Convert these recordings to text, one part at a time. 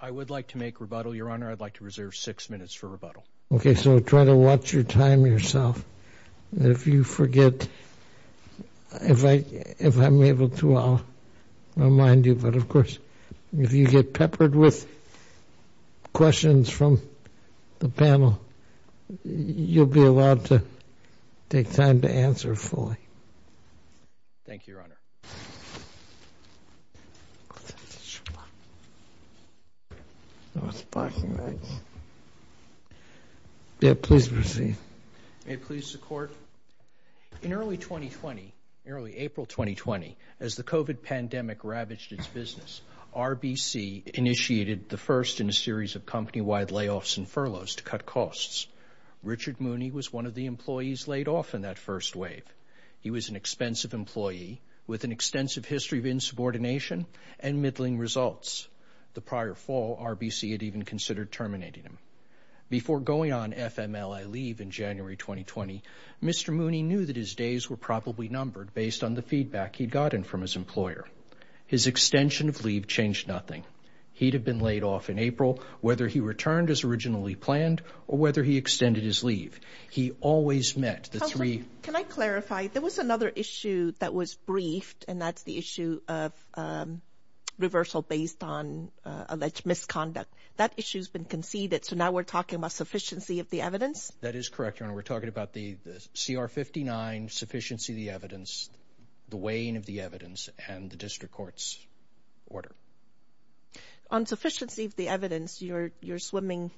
I would like to make rebuttal, Your Honor. I'd like to reserve 6 minutes for rebuttal. Okay, so try to watch your time yourself. And if you forget, if I'm able to, I'll remind you. But, of course, if you get peppered with questions from the panel, you'll be allowed to take time to answer fully. Thank you, Your Honor. Your Honor. May I please proceed? May it please the Court. In early 2020, early April 2020, as the COVID pandemic ravaged its business, RBC initiated the first in a series of company-wide layoffs and furloughs to cut costs. Richard Mooney was one of the employees laid off in that first wave. He was an expensive employee with an extensive history of insubordination and middling results. The prior fall, RBC had even considered terminating him. Before going on FMLA leave in January 2020, Mr. Mooney knew that his days were probably numbered based on the feedback he'd gotten from his employer. His extension of leave changed nothing. He'd have been laid off in April, whether he returned as originally planned or whether he extended his leave. He always met the three— Counselor, can I clarify? There was another issue that was briefed, and that's the issue of reversal based on alleged misconduct. That issue's been conceded, so now we're talking about sufficiency of the evidence? That is correct, Your Honor. We're talking about the CR-59, sufficiency of the evidence, the weighing of the evidence, and the district court's order. On sufficiency of the evidence, you're swimming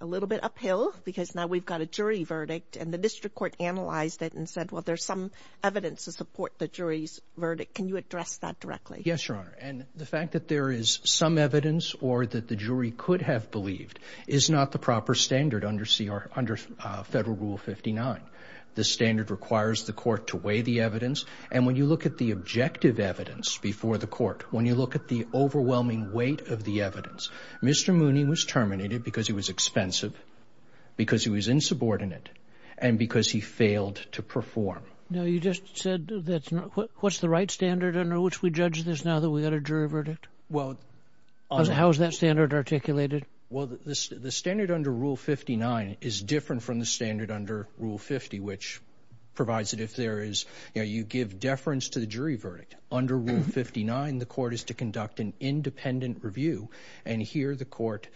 a little bit uphill because now we've got a jury verdict, and the district court analyzed it and said, well, there's some evidence to support the jury's verdict. Can you address that directly? Yes, Your Honor, and the fact that there is some evidence or that the jury could have believed is not the proper standard under Federal Rule 59. The standard requires the court to weigh the evidence, and when you look at the objective evidence before the court, when you look at the overwhelming weight of the evidence, Mr. Mooney was terminated because he was expensive, because he was insubordinate, and because he failed to perform. Now, you just said what's the right standard under which we judge this now that we've got a jury verdict? How is that standard articulated? Well, the standard under Rule 59 is different from the standard under Rule 50, which provides that if there is, you know, you give deference to the jury verdict. Under Rule 59, the court is to conduct an independent review, and here the court,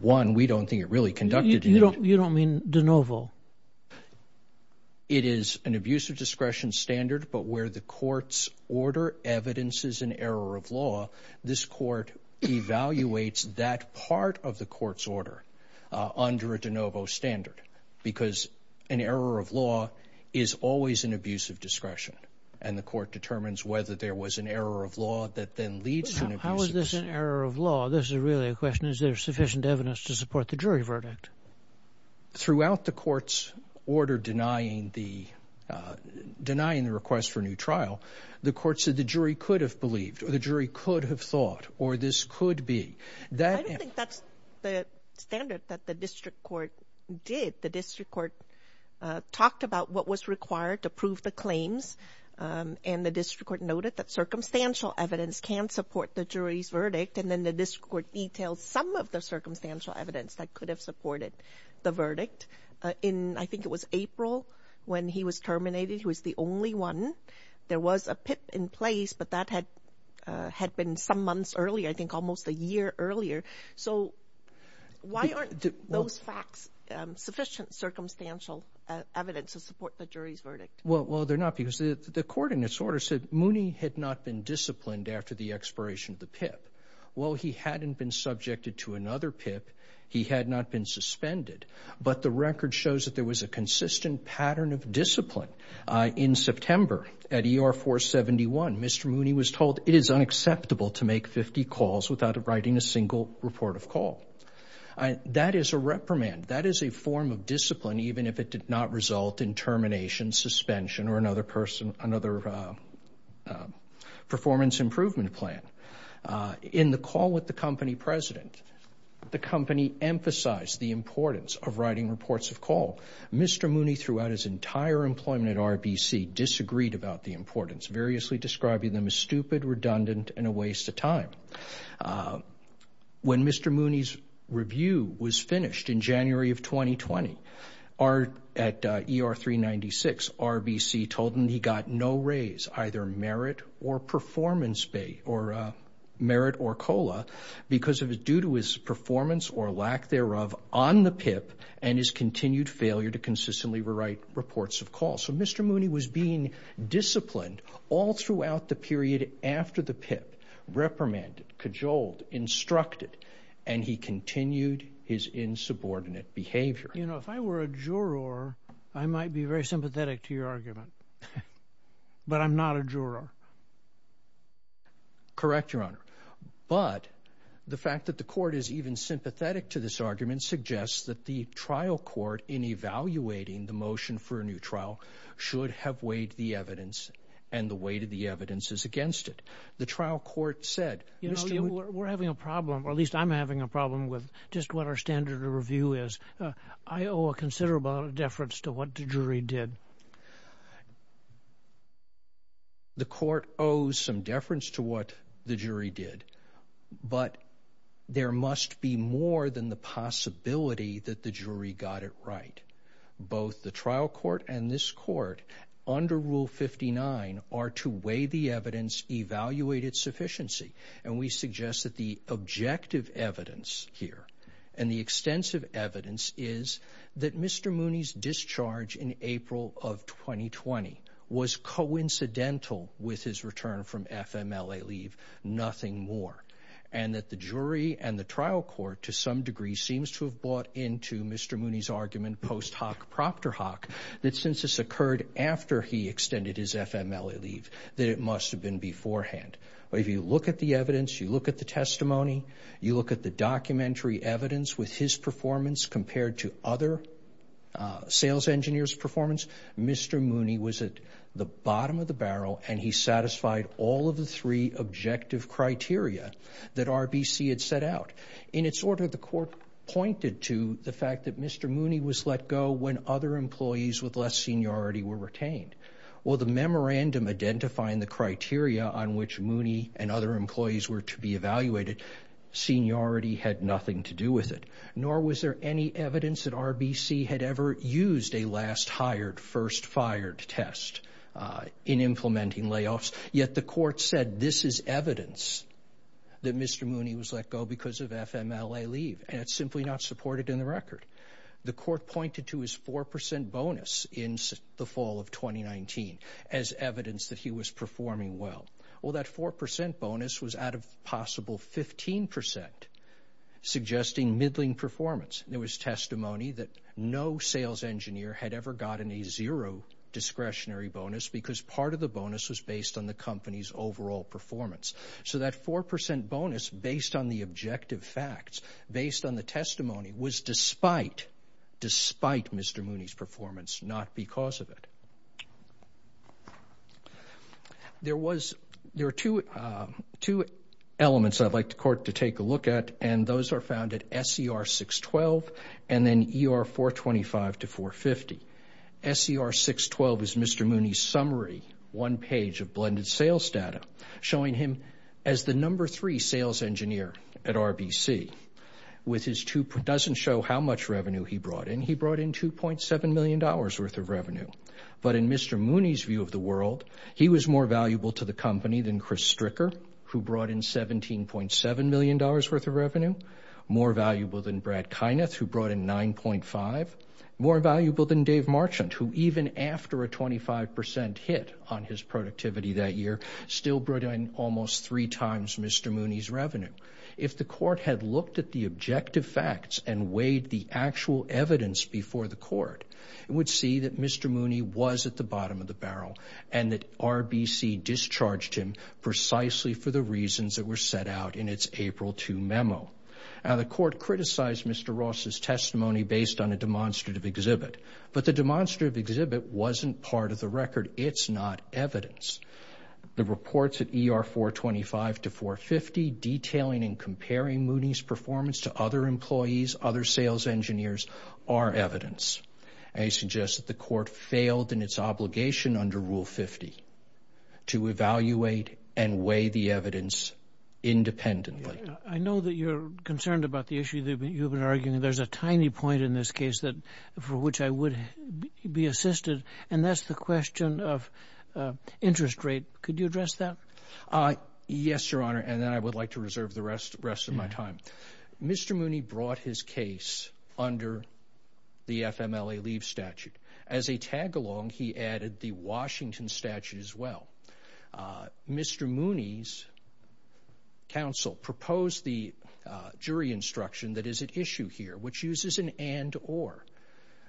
one, we don't think it really conducted it. You don't mean de novo? It is an abusive discretion standard, but where the court's order evidences an error of law, this court evaluates that part of the court's order under a de novo standard because an error of law is always an abuse of discretion, and the court determines whether there was an error of law that then leads to an abuse of discretion. How is this an error of law? This is really a question. Is there sufficient evidence to support the jury verdict? Throughout the court's order denying the request for a new trial, the court said the jury could have believed, or the jury could have thought, or this could be. I don't think that's the standard that the district court did. The district court talked about what was required to prove the claims, and the district court noted that circumstantial evidence can support the jury's verdict, and then the district court detailed some of the circumstantial evidence that could have supported the verdict. I think it was April when he was terminated. He was the only one. There was a PIP in place, but that had been some months earlier, I think almost a year earlier. So why aren't those facts sufficient circumstantial evidence to support the jury's verdict? Well, they're not because the court in its order said Mooney had not been disciplined after the expiration of the PIP. While he hadn't been subjected to another PIP, he had not been suspended, but the record shows that there was a consistent pattern of discipline in September at ER 471. Mr. Mooney was told it is unacceptable to make 50 calls without writing a single report of call. That is a reprimand. That is a form of discipline, even if it did not result in termination, suspension, or another performance improvement plan. In the call with the company president, the company emphasized the importance of writing reports of call. Mr. Mooney, throughout his entire employment at RBC, disagreed about the importance, variously describing them as stupid, redundant, and a waste of time. When Mr. Mooney's review was finished in January of 2020 at ER 396, RBC told him he got no raise, either merit or performance, or merit or COLA, because of his performance or lack thereof on the PIP and his continued failure to consistently write reports of call. So Mr. Mooney was being disciplined all throughout the period after the PIP, reprimanded, cajoled, instructed, and he continued his insubordinate behavior. You know, if I were a juror, I might be very sympathetic to your argument, but I'm not a juror. Correct, Your Honor, but the fact that the court is even sympathetic to this argument suggests that the trial court, in evaluating the motion for a new trial, should have weighed the evidence, and the weight of the evidence is against it. The trial court said, Mr. Mooney... You know, we're having a problem, or at least I'm having a problem with just what our standard of review is. I owe a considerable amount of deference to what the jury did. The court owes some deference to what the jury did, but there must be more than the possibility that the jury got it right. Both the trial court and this court, under Rule 59, are to weigh the evidence, evaluate its sufficiency, and we suggest that the objective evidence here and the extensive evidence is that Mr. Mooney's discharge in April of 2020 was coincidental with his return from FMLA leave, nothing more, and that the jury and the trial court, to some degree, seems to have bought into Mr. Mooney's argument post hoc propter hoc that since this occurred after he extended his FMLA leave, that it must have been beforehand. If you look at the evidence, you look at the testimony, you look at the documentary evidence with his performance compared to other sales engineers' performance, Mr. Mooney was at the bottom of the barrel and he satisfied all of the three objective criteria that RBC had set out. In its order, the court pointed to the fact that Mr. Mooney was let go when other employees with less seniority were retained. Well, the memorandum identifying the criteria on which Mooney and other employees were to be evaluated, seniority had nothing to do with it, nor was there any evidence that RBC had ever used a last hired, first fired test in implementing layoffs, yet the court said this is evidence that Mr. Mooney was let go because of FMLA leave and it's simply not supported in the record. The court pointed to his 4% bonus in the fall of 2019 as evidence that he was performing well. Well, that 4% bonus was out of possible 15% suggesting middling performance. There was testimony that no sales engineer had ever gotten a zero discretionary bonus because part of the bonus was based on the company's overall performance. So that 4% bonus based on the objective facts, based on the testimony, was despite Mr. Mooney's performance, not because of it. There are two elements I'd like the court to take a look at and those are found at SER 612 and then ER 425 to 450. SER 612 is Mr. Mooney's summary one page of blended sales data showing him as the number three sales engineer at RBC. It doesn't show how much revenue he brought in. He brought in $2.7 million worth of revenue. But in Mr. Mooney's view of the world, he was more valuable to the company than Chris Stricker who brought in $17.7 million worth of revenue, more valuable than Brad Kyneth who brought in $9.5 million, more valuable than Dave Marchant who even after a 25% hit on his productivity that year still brought in almost three times Mr. Mooney's revenue. If the court had looked at the objective facts and weighed the actual evidence before the court, it would see that Mr. Mooney was at the bottom of the barrel and that RBC discharged him precisely for the reasons that were set out in its April 2 memo. Now the court criticized Mr. Ross's testimony based on a demonstrative exhibit, but the demonstrative exhibit wasn't part of the record. It's not evidence. The reports at ER 425 to 450 detailing and comparing Mooney's performance to other employees, other sales engineers, are evidence. I suggest that the court failed in its obligation under Rule 50 to evaluate and weigh the evidence independently. I know that you're concerned about the issue that you've been arguing. There's a tiny point in this case for which I would be assisted, and that's the question of interest rate. Could you address that? Yes, Your Honor, and then I would like to reserve the rest of my time. Mr. Mooney brought his case under the FMLA leave statute. As a tag-along, he added the Washington statute as well. Mr. Mooney's counsel proposed the jury instruction that is at issue here, which uses an and-or,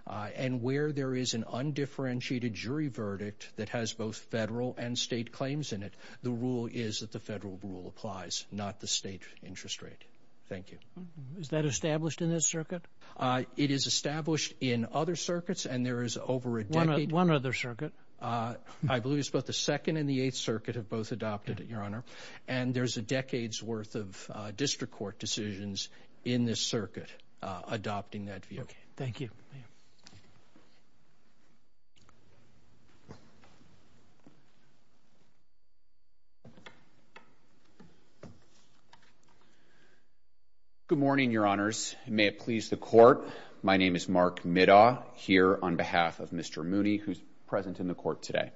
and where there is an undifferentiated jury verdict that has both federal and state claims in it, the rule is that the federal rule applies, not the state interest rate. Thank you. Is that established in this circuit? It is established in other circuits, and there is over a decade. One other circuit. I believe it's both the Second and the Eighth Circuit have both adopted it, Your Honor, and there's a decade's worth of district court decisions in this circuit adopting that view. Thank you. Good morning, Your Honors. May it please the Court, my name is Mark Middaw, here on behalf of Mr. Mooney, who's present in the Court today.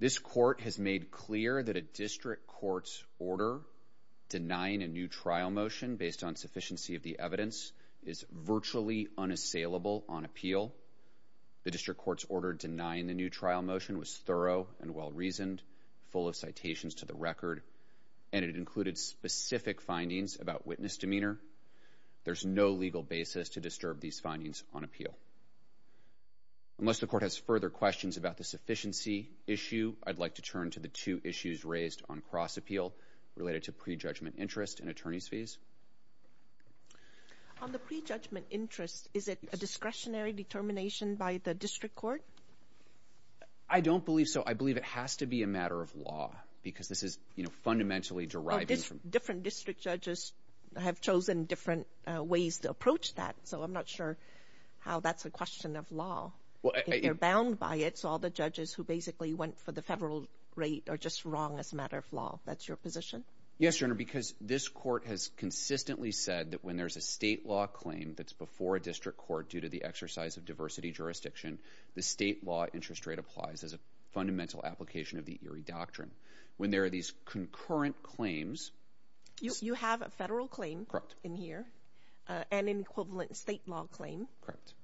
This Court has made clear that a district court's order denying a new trial motion based on sufficiency of the evidence is virtually unassailable on appeal. The district court's order denying the new trial motion was thorough and well-reasoned, full of citations to the record, and it included specific findings about witness demeanor. There's no legal basis to disturb these findings on appeal. Unless the Court has further questions about the sufficiency issue, I'd like to turn to the two issues raised on cross-appeal related to prejudgment interest and attorney's fees. On the prejudgment interest, is it a discretionary determination by the district court? I don't believe so. I believe it has to be a matter of law, because this is fundamentally deriving from... Different district judges have chosen different ways to approach that, so I'm not sure how that's a question of law. If you're bound by it, so all the judges who basically went for the federal rate are just wrong as a matter of law. That's your position? Yes, Your Honor, because this court has consistently said that when there's a state law claim that's before a district court due to the exercise of diversity jurisdiction, the state law interest rate applies as a fundamental application of the Erie Doctrine. When there are these concurrent claims... You have a federal claim in here and an equivalent state law claim. Correct.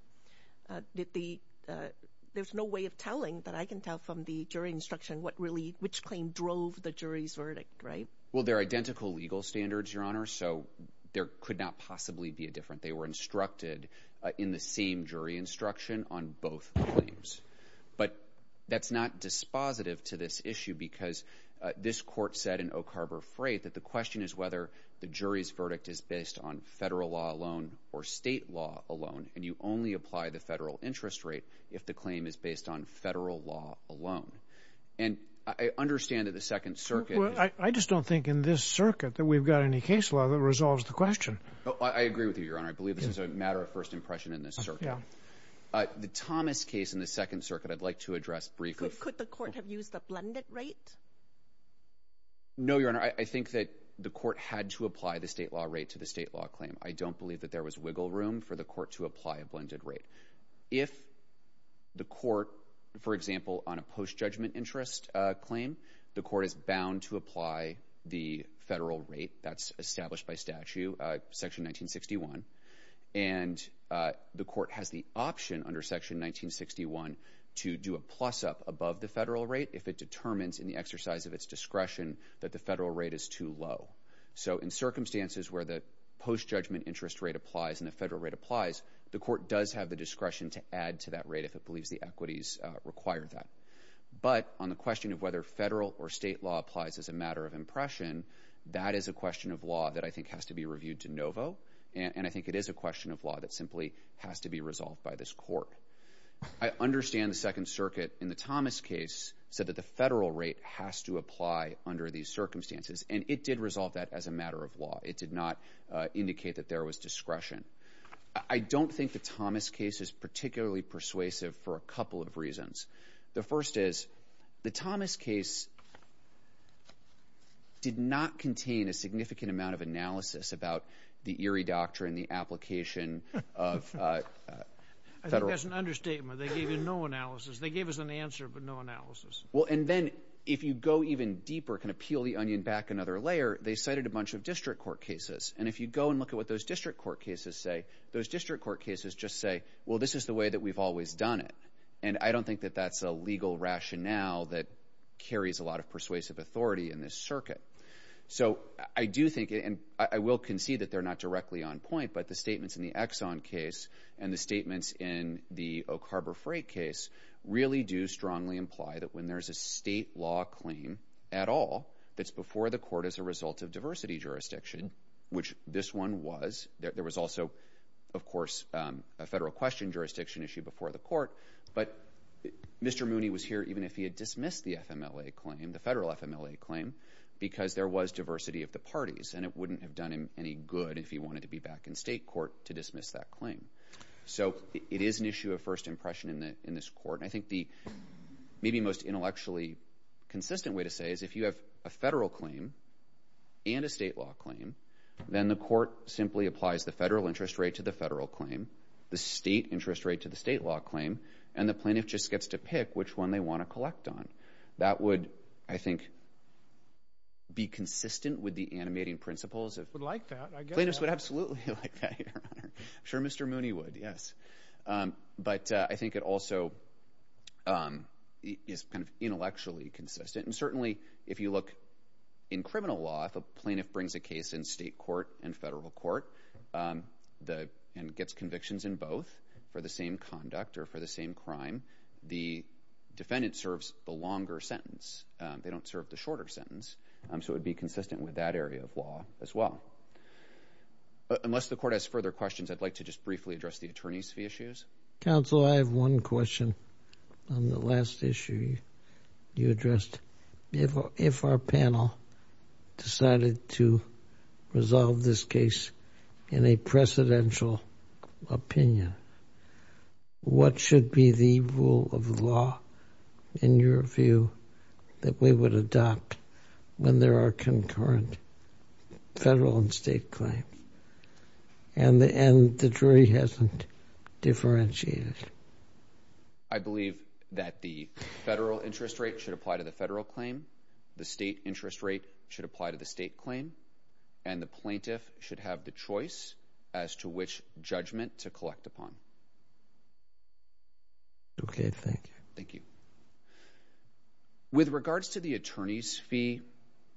There's no way of telling, but I can tell from the jury instruction, which claim drove the jury's verdict, right? Well, they're identical legal standards, Your Honor, so there could not possibly be a difference. They were instructed in the same jury instruction on both claims. But that's not dispositive to this issue, because this court said in O'Carver Freight that the question is whether the jury's verdict is based on federal law alone or state law alone, and you only apply the federal interest rate if the claim is based on federal law alone. And I understand that the Second Circuit... I just don't think in this circuit that we've got any case law that resolves the question. I agree with you, Your Honor. I believe this is a matter of first impression in this circuit. The Thomas case in the Second Circuit I'd like to address briefly. Could the court have used the blended rate? No, Your Honor. I think that the court had to apply the state law rate to the state law claim. I don't believe that there was wiggle room for the court to apply a blended rate. If the court, for example, on a post-judgment interest claim, the court is bound to apply the federal rate that's established by statute, Section 1961, and the court has the option under Section 1961 to do a plus-up above the federal rate if it determines in the exercise of its discretion that the federal rate is too low. So in circumstances where the post-judgment interest rate applies and the federal rate applies, the court does have the discretion to add to that rate if it believes the equities require that. But on the question of whether federal or state law applies as a matter of impression, that is a question of law that I think has to be reviewed de novo, and I think it is a question of law that simply has to be resolved by this court. I understand the Second Circuit in the Thomas case said that the federal rate has to apply under these circumstances, and it did resolve that as a matter of law. It did not indicate that there was discretion. I don't think the Thomas case is particularly persuasive for a couple of reasons. The first is the Thomas case did not contain a significant amount of analysis about the Erie Doctrine, the application of federal. I think that's an understatement. They gave you no analysis. They gave us an answer but no analysis. Well, and then if you go even deeper, kind of peel the onion back another layer, they cited a bunch of district court cases, and if you go and look at what those district court cases say, those district court cases just say, well, this is the way that we've always done it, and I don't think that that's a legal rationale that carries a lot of persuasive authority in this circuit. So I do think, and I will concede that they're not directly on point, but the statements in the Exxon case and the statements in the Oak Harbor Freight case really do strongly imply that when there's a state law claim at all that's before the court as a result of diversity jurisdiction, which this one was. There was also, of course, a federal question jurisdiction issue before the court, but Mr. Mooney was here even if he had dismissed the FMLA claim, the federal FMLA claim, because there was diversity of the parties, and it wouldn't have done him any good if he wanted to be back in state court to dismiss that claim. So it is an issue of first impression in this court, and I think the maybe most intellectually consistent way to say is if you have a federal claim and a state law claim, then the court simply applies the federal interest rate to the federal claim, the state interest rate to the state law claim, and the plaintiff just gets to pick which one they want to collect on. That would, I think, be consistent with the animating principles. It would like that. I get that. Plaintiffs would absolutely like that, Your Honor. I'm sure Mr. Mooney would, yes. But I think it also is kind of intellectually consistent, and certainly if you look in criminal law, if a plaintiff brings a case in state court and federal court and gets convictions in both for the same conduct or for the same crime, the defendant serves the longer sentence. They don't serve the shorter sentence, so it would be consistent with that area of law as well. Unless the court has further questions, I'd like to just briefly address the attorney's fee issues. Counsel, I have one question on the last issue you addressed. If our panel decided to resolve this case in a precedential opinion, what should be the rule of law, in your view, that we would adopt when there are concurrent federal and state claims? And the jury hasn't differentiated. I believe that the federal interest rate should apply to the federal claim, the state interest rate should apply to the state claim, and the plaintiff should have the choice as to which judgment to collect upon. Okay. Thank you. Thank you. With regards to the attorney's fee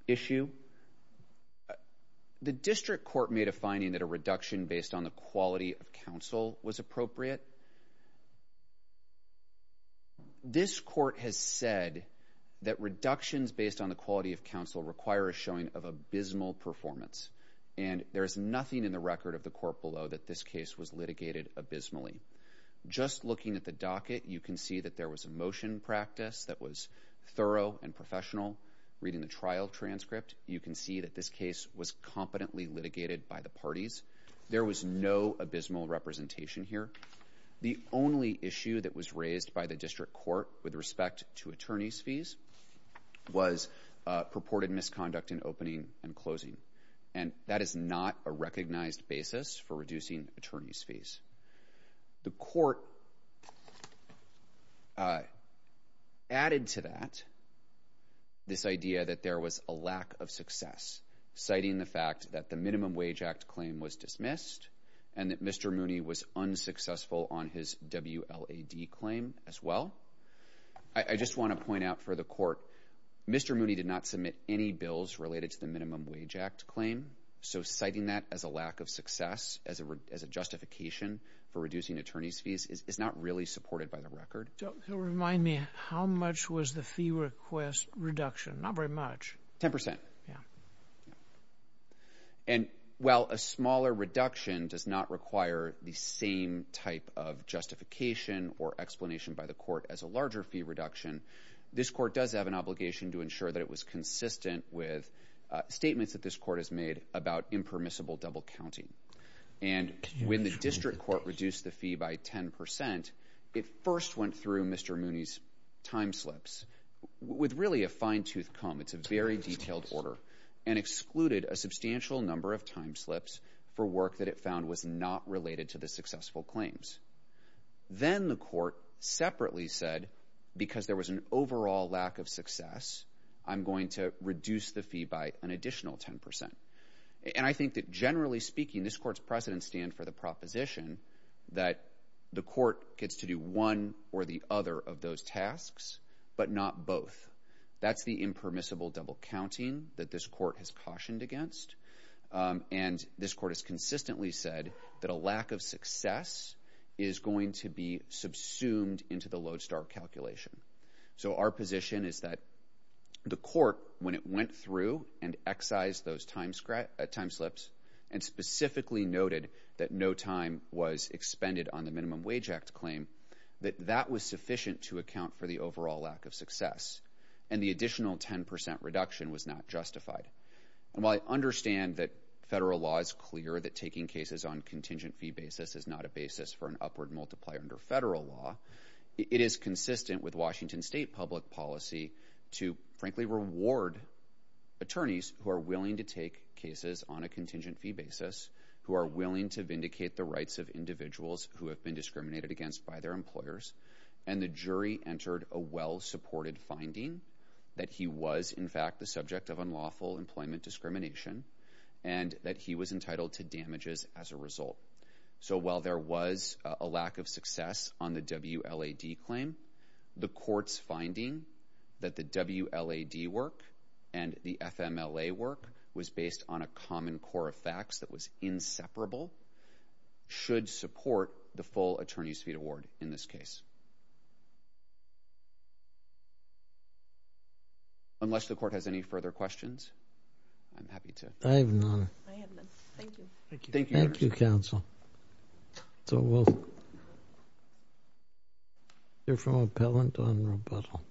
issue, the district court made a finding that a reduction based on the quality of counsel was appropriate. This court has said that reductions based on the quality of counsel require a showing of abysmal performance, and there is nothing in the record of the court below that this case was litigated abysmally. Just looking at the docket, you can see that there was a motion practice that was thorough and professional. Reading the trial transcript, you can see that this case was competently litigated by the parties. There was no abysmal representation here. The only issue that was raised by the district court with respect to attorney's fees was purported misconduct in opening and closing, and that is not a recognized basis for reducing attorney's fees. The court added to that this idea that there was a lack of success, citing the fact that the Minimum Wage Act claim was dismissed and that Mr. Mooney was unsuccessful on his WLAD claim as well. I just want to point out for the court, Mr. Mooney did not submit any bills related to the Minimum Wage Act claim, so citing that as a lack of success, as a justification for reducing attorney's fees, is not really supported by the record. It'll remind me, how much was the fee request reduction? Not very much. Ten percent. And while a smaller reduction does not require the same type of justification or explanation by the court as a larger fee reduction, this court does have an obligation to ensure that it was consistent with statements that this court has made about impermissible double counting. And when the district court reduced the fee by ten percent, it first went through Mr. Mooney's time slips with really a fine-tooth comb. It's a very detailed order. And excluded a substantial number of time slips for work that it found was not related to the successful claims. Then the court separately said, because there was an overall lack of success, I'm going to reduce the fee by an additional ten percent. And I think that, generally speaking, this court's precedents stand for the proposition that the court gets to do one or the other of those tasks, but not both. That's the impermissible double counting that this court has cautioned against. And this court has consistently said that a lack of success is going to be subsumed into the Lodestar calculation. So our position is that the court, when it went through and excised those time slips and specifically noted that no time was expended on the Minimum Wage Act claim, that that was sufficient to account for the overall lack of success. And the additional ten percent reduction was not justified. And while I understand that federal law is clear that taking cases on contingent fee basis is not a basis for an upward multiplier under federal law, it is consistent with Washington state public policy to, frankly, reward attorneys who are willing to take cases on a contingent fee basis, who are willing to vindicate the rights of individuals who have been discriminated against by their employers. And the jury entered a well-supported finding that he was, in fact, the subject of unlawful employment discrimination and that he was entitled to damages as a result. So while there was a lack of success on the WLAD claim, the court's finding that the WLAD work and the FMLA work was based on a common core of facts that was inseparable should support the full attorney's fee award in this case. Unless the court has any further questions, I'm happy to... I have none. I have none. Thank you. Thank you, Your Honor. Thank you, counsel. So we'll... hear from appellant on rebuttal.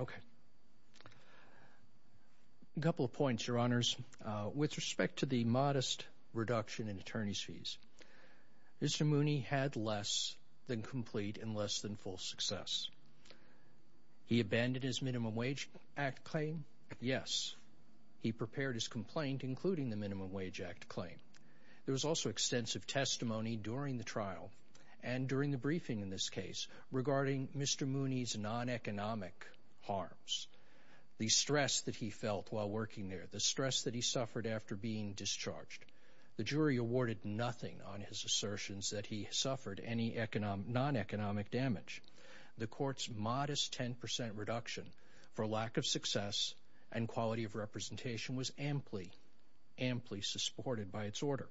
Okay. A couple of points, Your Honors. With respect to the modest reduction in attorney's fees, Mr. Mooney had less than complete and less than full success. He abandoned his Minimum Wage Act claim? Yes. He prepared his complaint, including the Minimum Wage Act claim. There was also excessive embezzlement. There was extensive testimony during the trial and during the briefing in this case regarding Mr. Mooney's non-economic harms, the stress that he felt while working there, the stress that he suffered after being discharged. The jury awarded nothing on his assertions that he suffered any non-economic damage. The court's modest 10% reduction for lack of success and quality of representation was amply, amply supported by its order.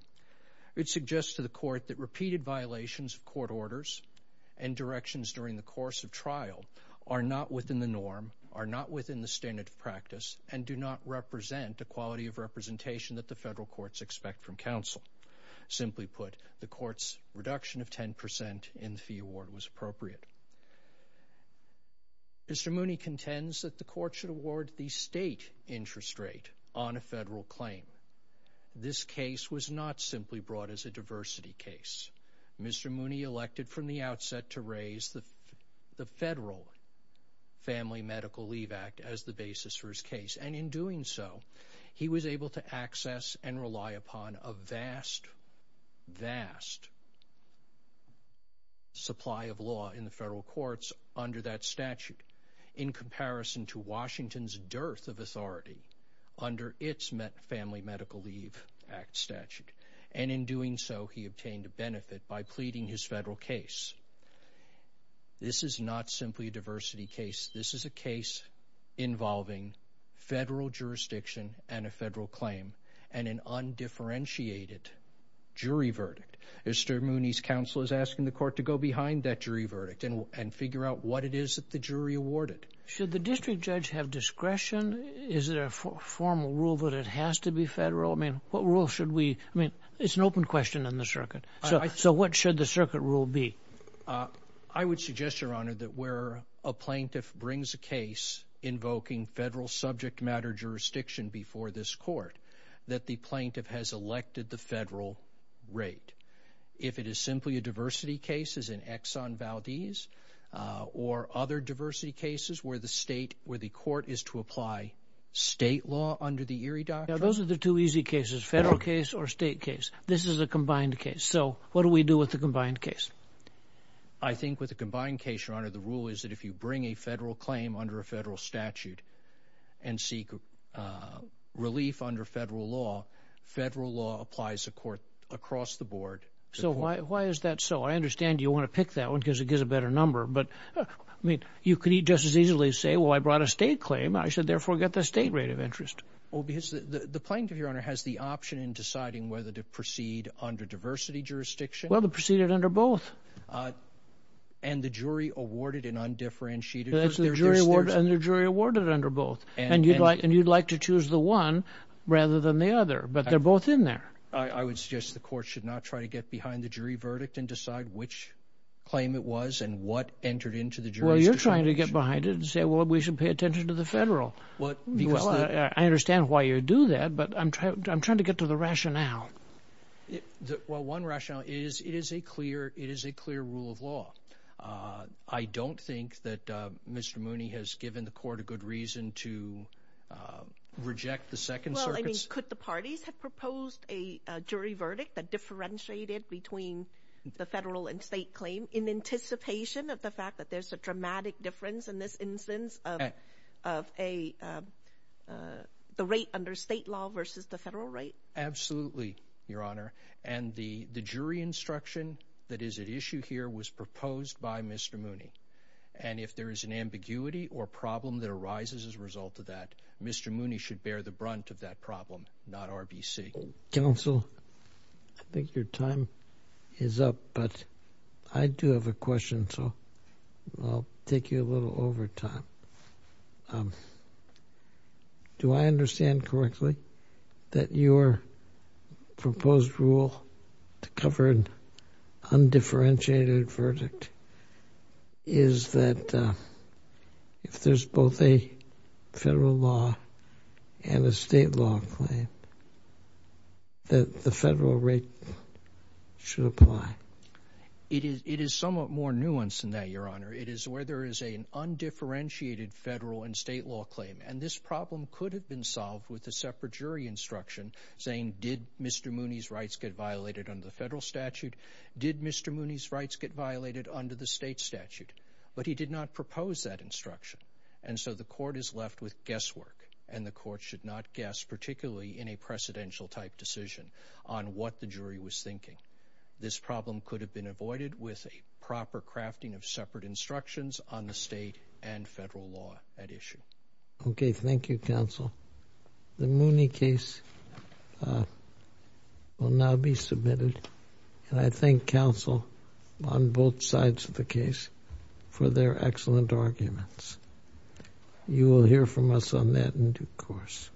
It suggests to the court that repeated violations of court orders and directions during the course of trial are not within the norm, are not within the standard of practice, and do not represent the quality of representation that the federal courts expect from counsel. Simply put, the court's reduction of 10% in the fee award was appropriate. Mr. Mooney contends that the court should award the state interest rate on a federal claim. This case was not simply brought as a diversity case. Mr. Mooney elected from the outset to raise the Federal Family Medical Leave Act as the basis for his case, and in doing so, he was able to access and rely upon a vast, vast supply of law in the federal courts under that statute in comparison to Washington's dearth of authority under its Family Medical Leave Act statute. And in doing so, he obtained a benefit by pleading his federal case. This is not simply a diversity case. This is a case involving federal jurisdiction and a federal claim and an undifferentiated jury verdict. Mr. Mooney's counsel is asking the court to go behind that jury verdict and figure out what it is that the jury awarded. Should the district judge have discretion? Is there a formal rule that it has to be federal? I mean, what rule should we... I mean, it's an open question in the circuit. So what should the circuit rule be? I would suggest, Your Honor, that where a plaintiff brings a case invoking federal subject matter jurisdiction before this court, that the plaintiff has elected the federal rate. If it is simply a diversity case as in Exxon Valdez or other diversity cases where the state... where the court is to apply state law under the Erie Doctrine... Now, those are the two easy cases, federal case or state case. This is a combined case. So what do we do with the combined case? I think with the combined case, Your Honor, the rule is that if you bring a federal claim under a federal statute and seek relief under federal law, federal law applies across the board. So why is that so? I understand you want to pick that one because it gives a better number, but... I mean, you could just as easily say, well, I brought a state claim. I should therefore get the state rate of interest. Well, because the plaintiff, Your Honor, has the option in deciding whether to proceed under diversity jurisdiction... Well, to proceed it under both. And the jury awarded an undifferentiated... And the jury awarded under both. And you'd like to choose the one rather than the other, but they're both in there. I would suggest the court should not try to get behind the jury verdict and decide which claim it was and what entered into the jurisdiction. Well, you're trying to get behind it and say, well, we should pay attention to the federal. Well, I understand why you do that, but I'm trying to get to the rationale. Well, one rationale is it is a clear rule of law. I don't think that Mr. Mooney has given the court a good reason to reject the Second Circuit's... Well, I mean, could the parties have proposed a jury verdict that differentiated between the federal and state claim in anticipation of the fact that there's a dramatic difference in this instance of the rate under state law versus the federal rate? Absolutely, Your Honor. And the jury instruction that is at issue here was proposed by Mr. Mooney. And if there is an ambiguity or problem that arises as a result of that, Mr. Mooney should bear the brunt of that problem, not RBC. Counsel, I think your time is up, but I do have a question, so I'll take you a little overtime. Do I understand correctly that your proposed rule to cover an undifferentiated verdict is that if there's both a federal law and a state law claim, that the federal rate should apply? It is somewhat more nuanced than that, Your Honor. It is where there is an undifferentiated federal and state law claim, and this problem could have been solved with a separate jury instruction saying, did Mr. Mooney's rights get violated under the federal statute? Did Mr. Mooney's rights get violated under the state statute? But he did not propose that instruction, and so the court is left with guesswork, and the court should not guess, particularly in a precedential-type decision, on what the jury was thinking. This problem could have been avoided with a proper crafting of separate instructions on the state and federal law at issue. Okay, thank you, counsel. The Mooney case will now be submitted, and I thank counsel on both sides of the case for their excellent arguments. You will hear from us on that in due course.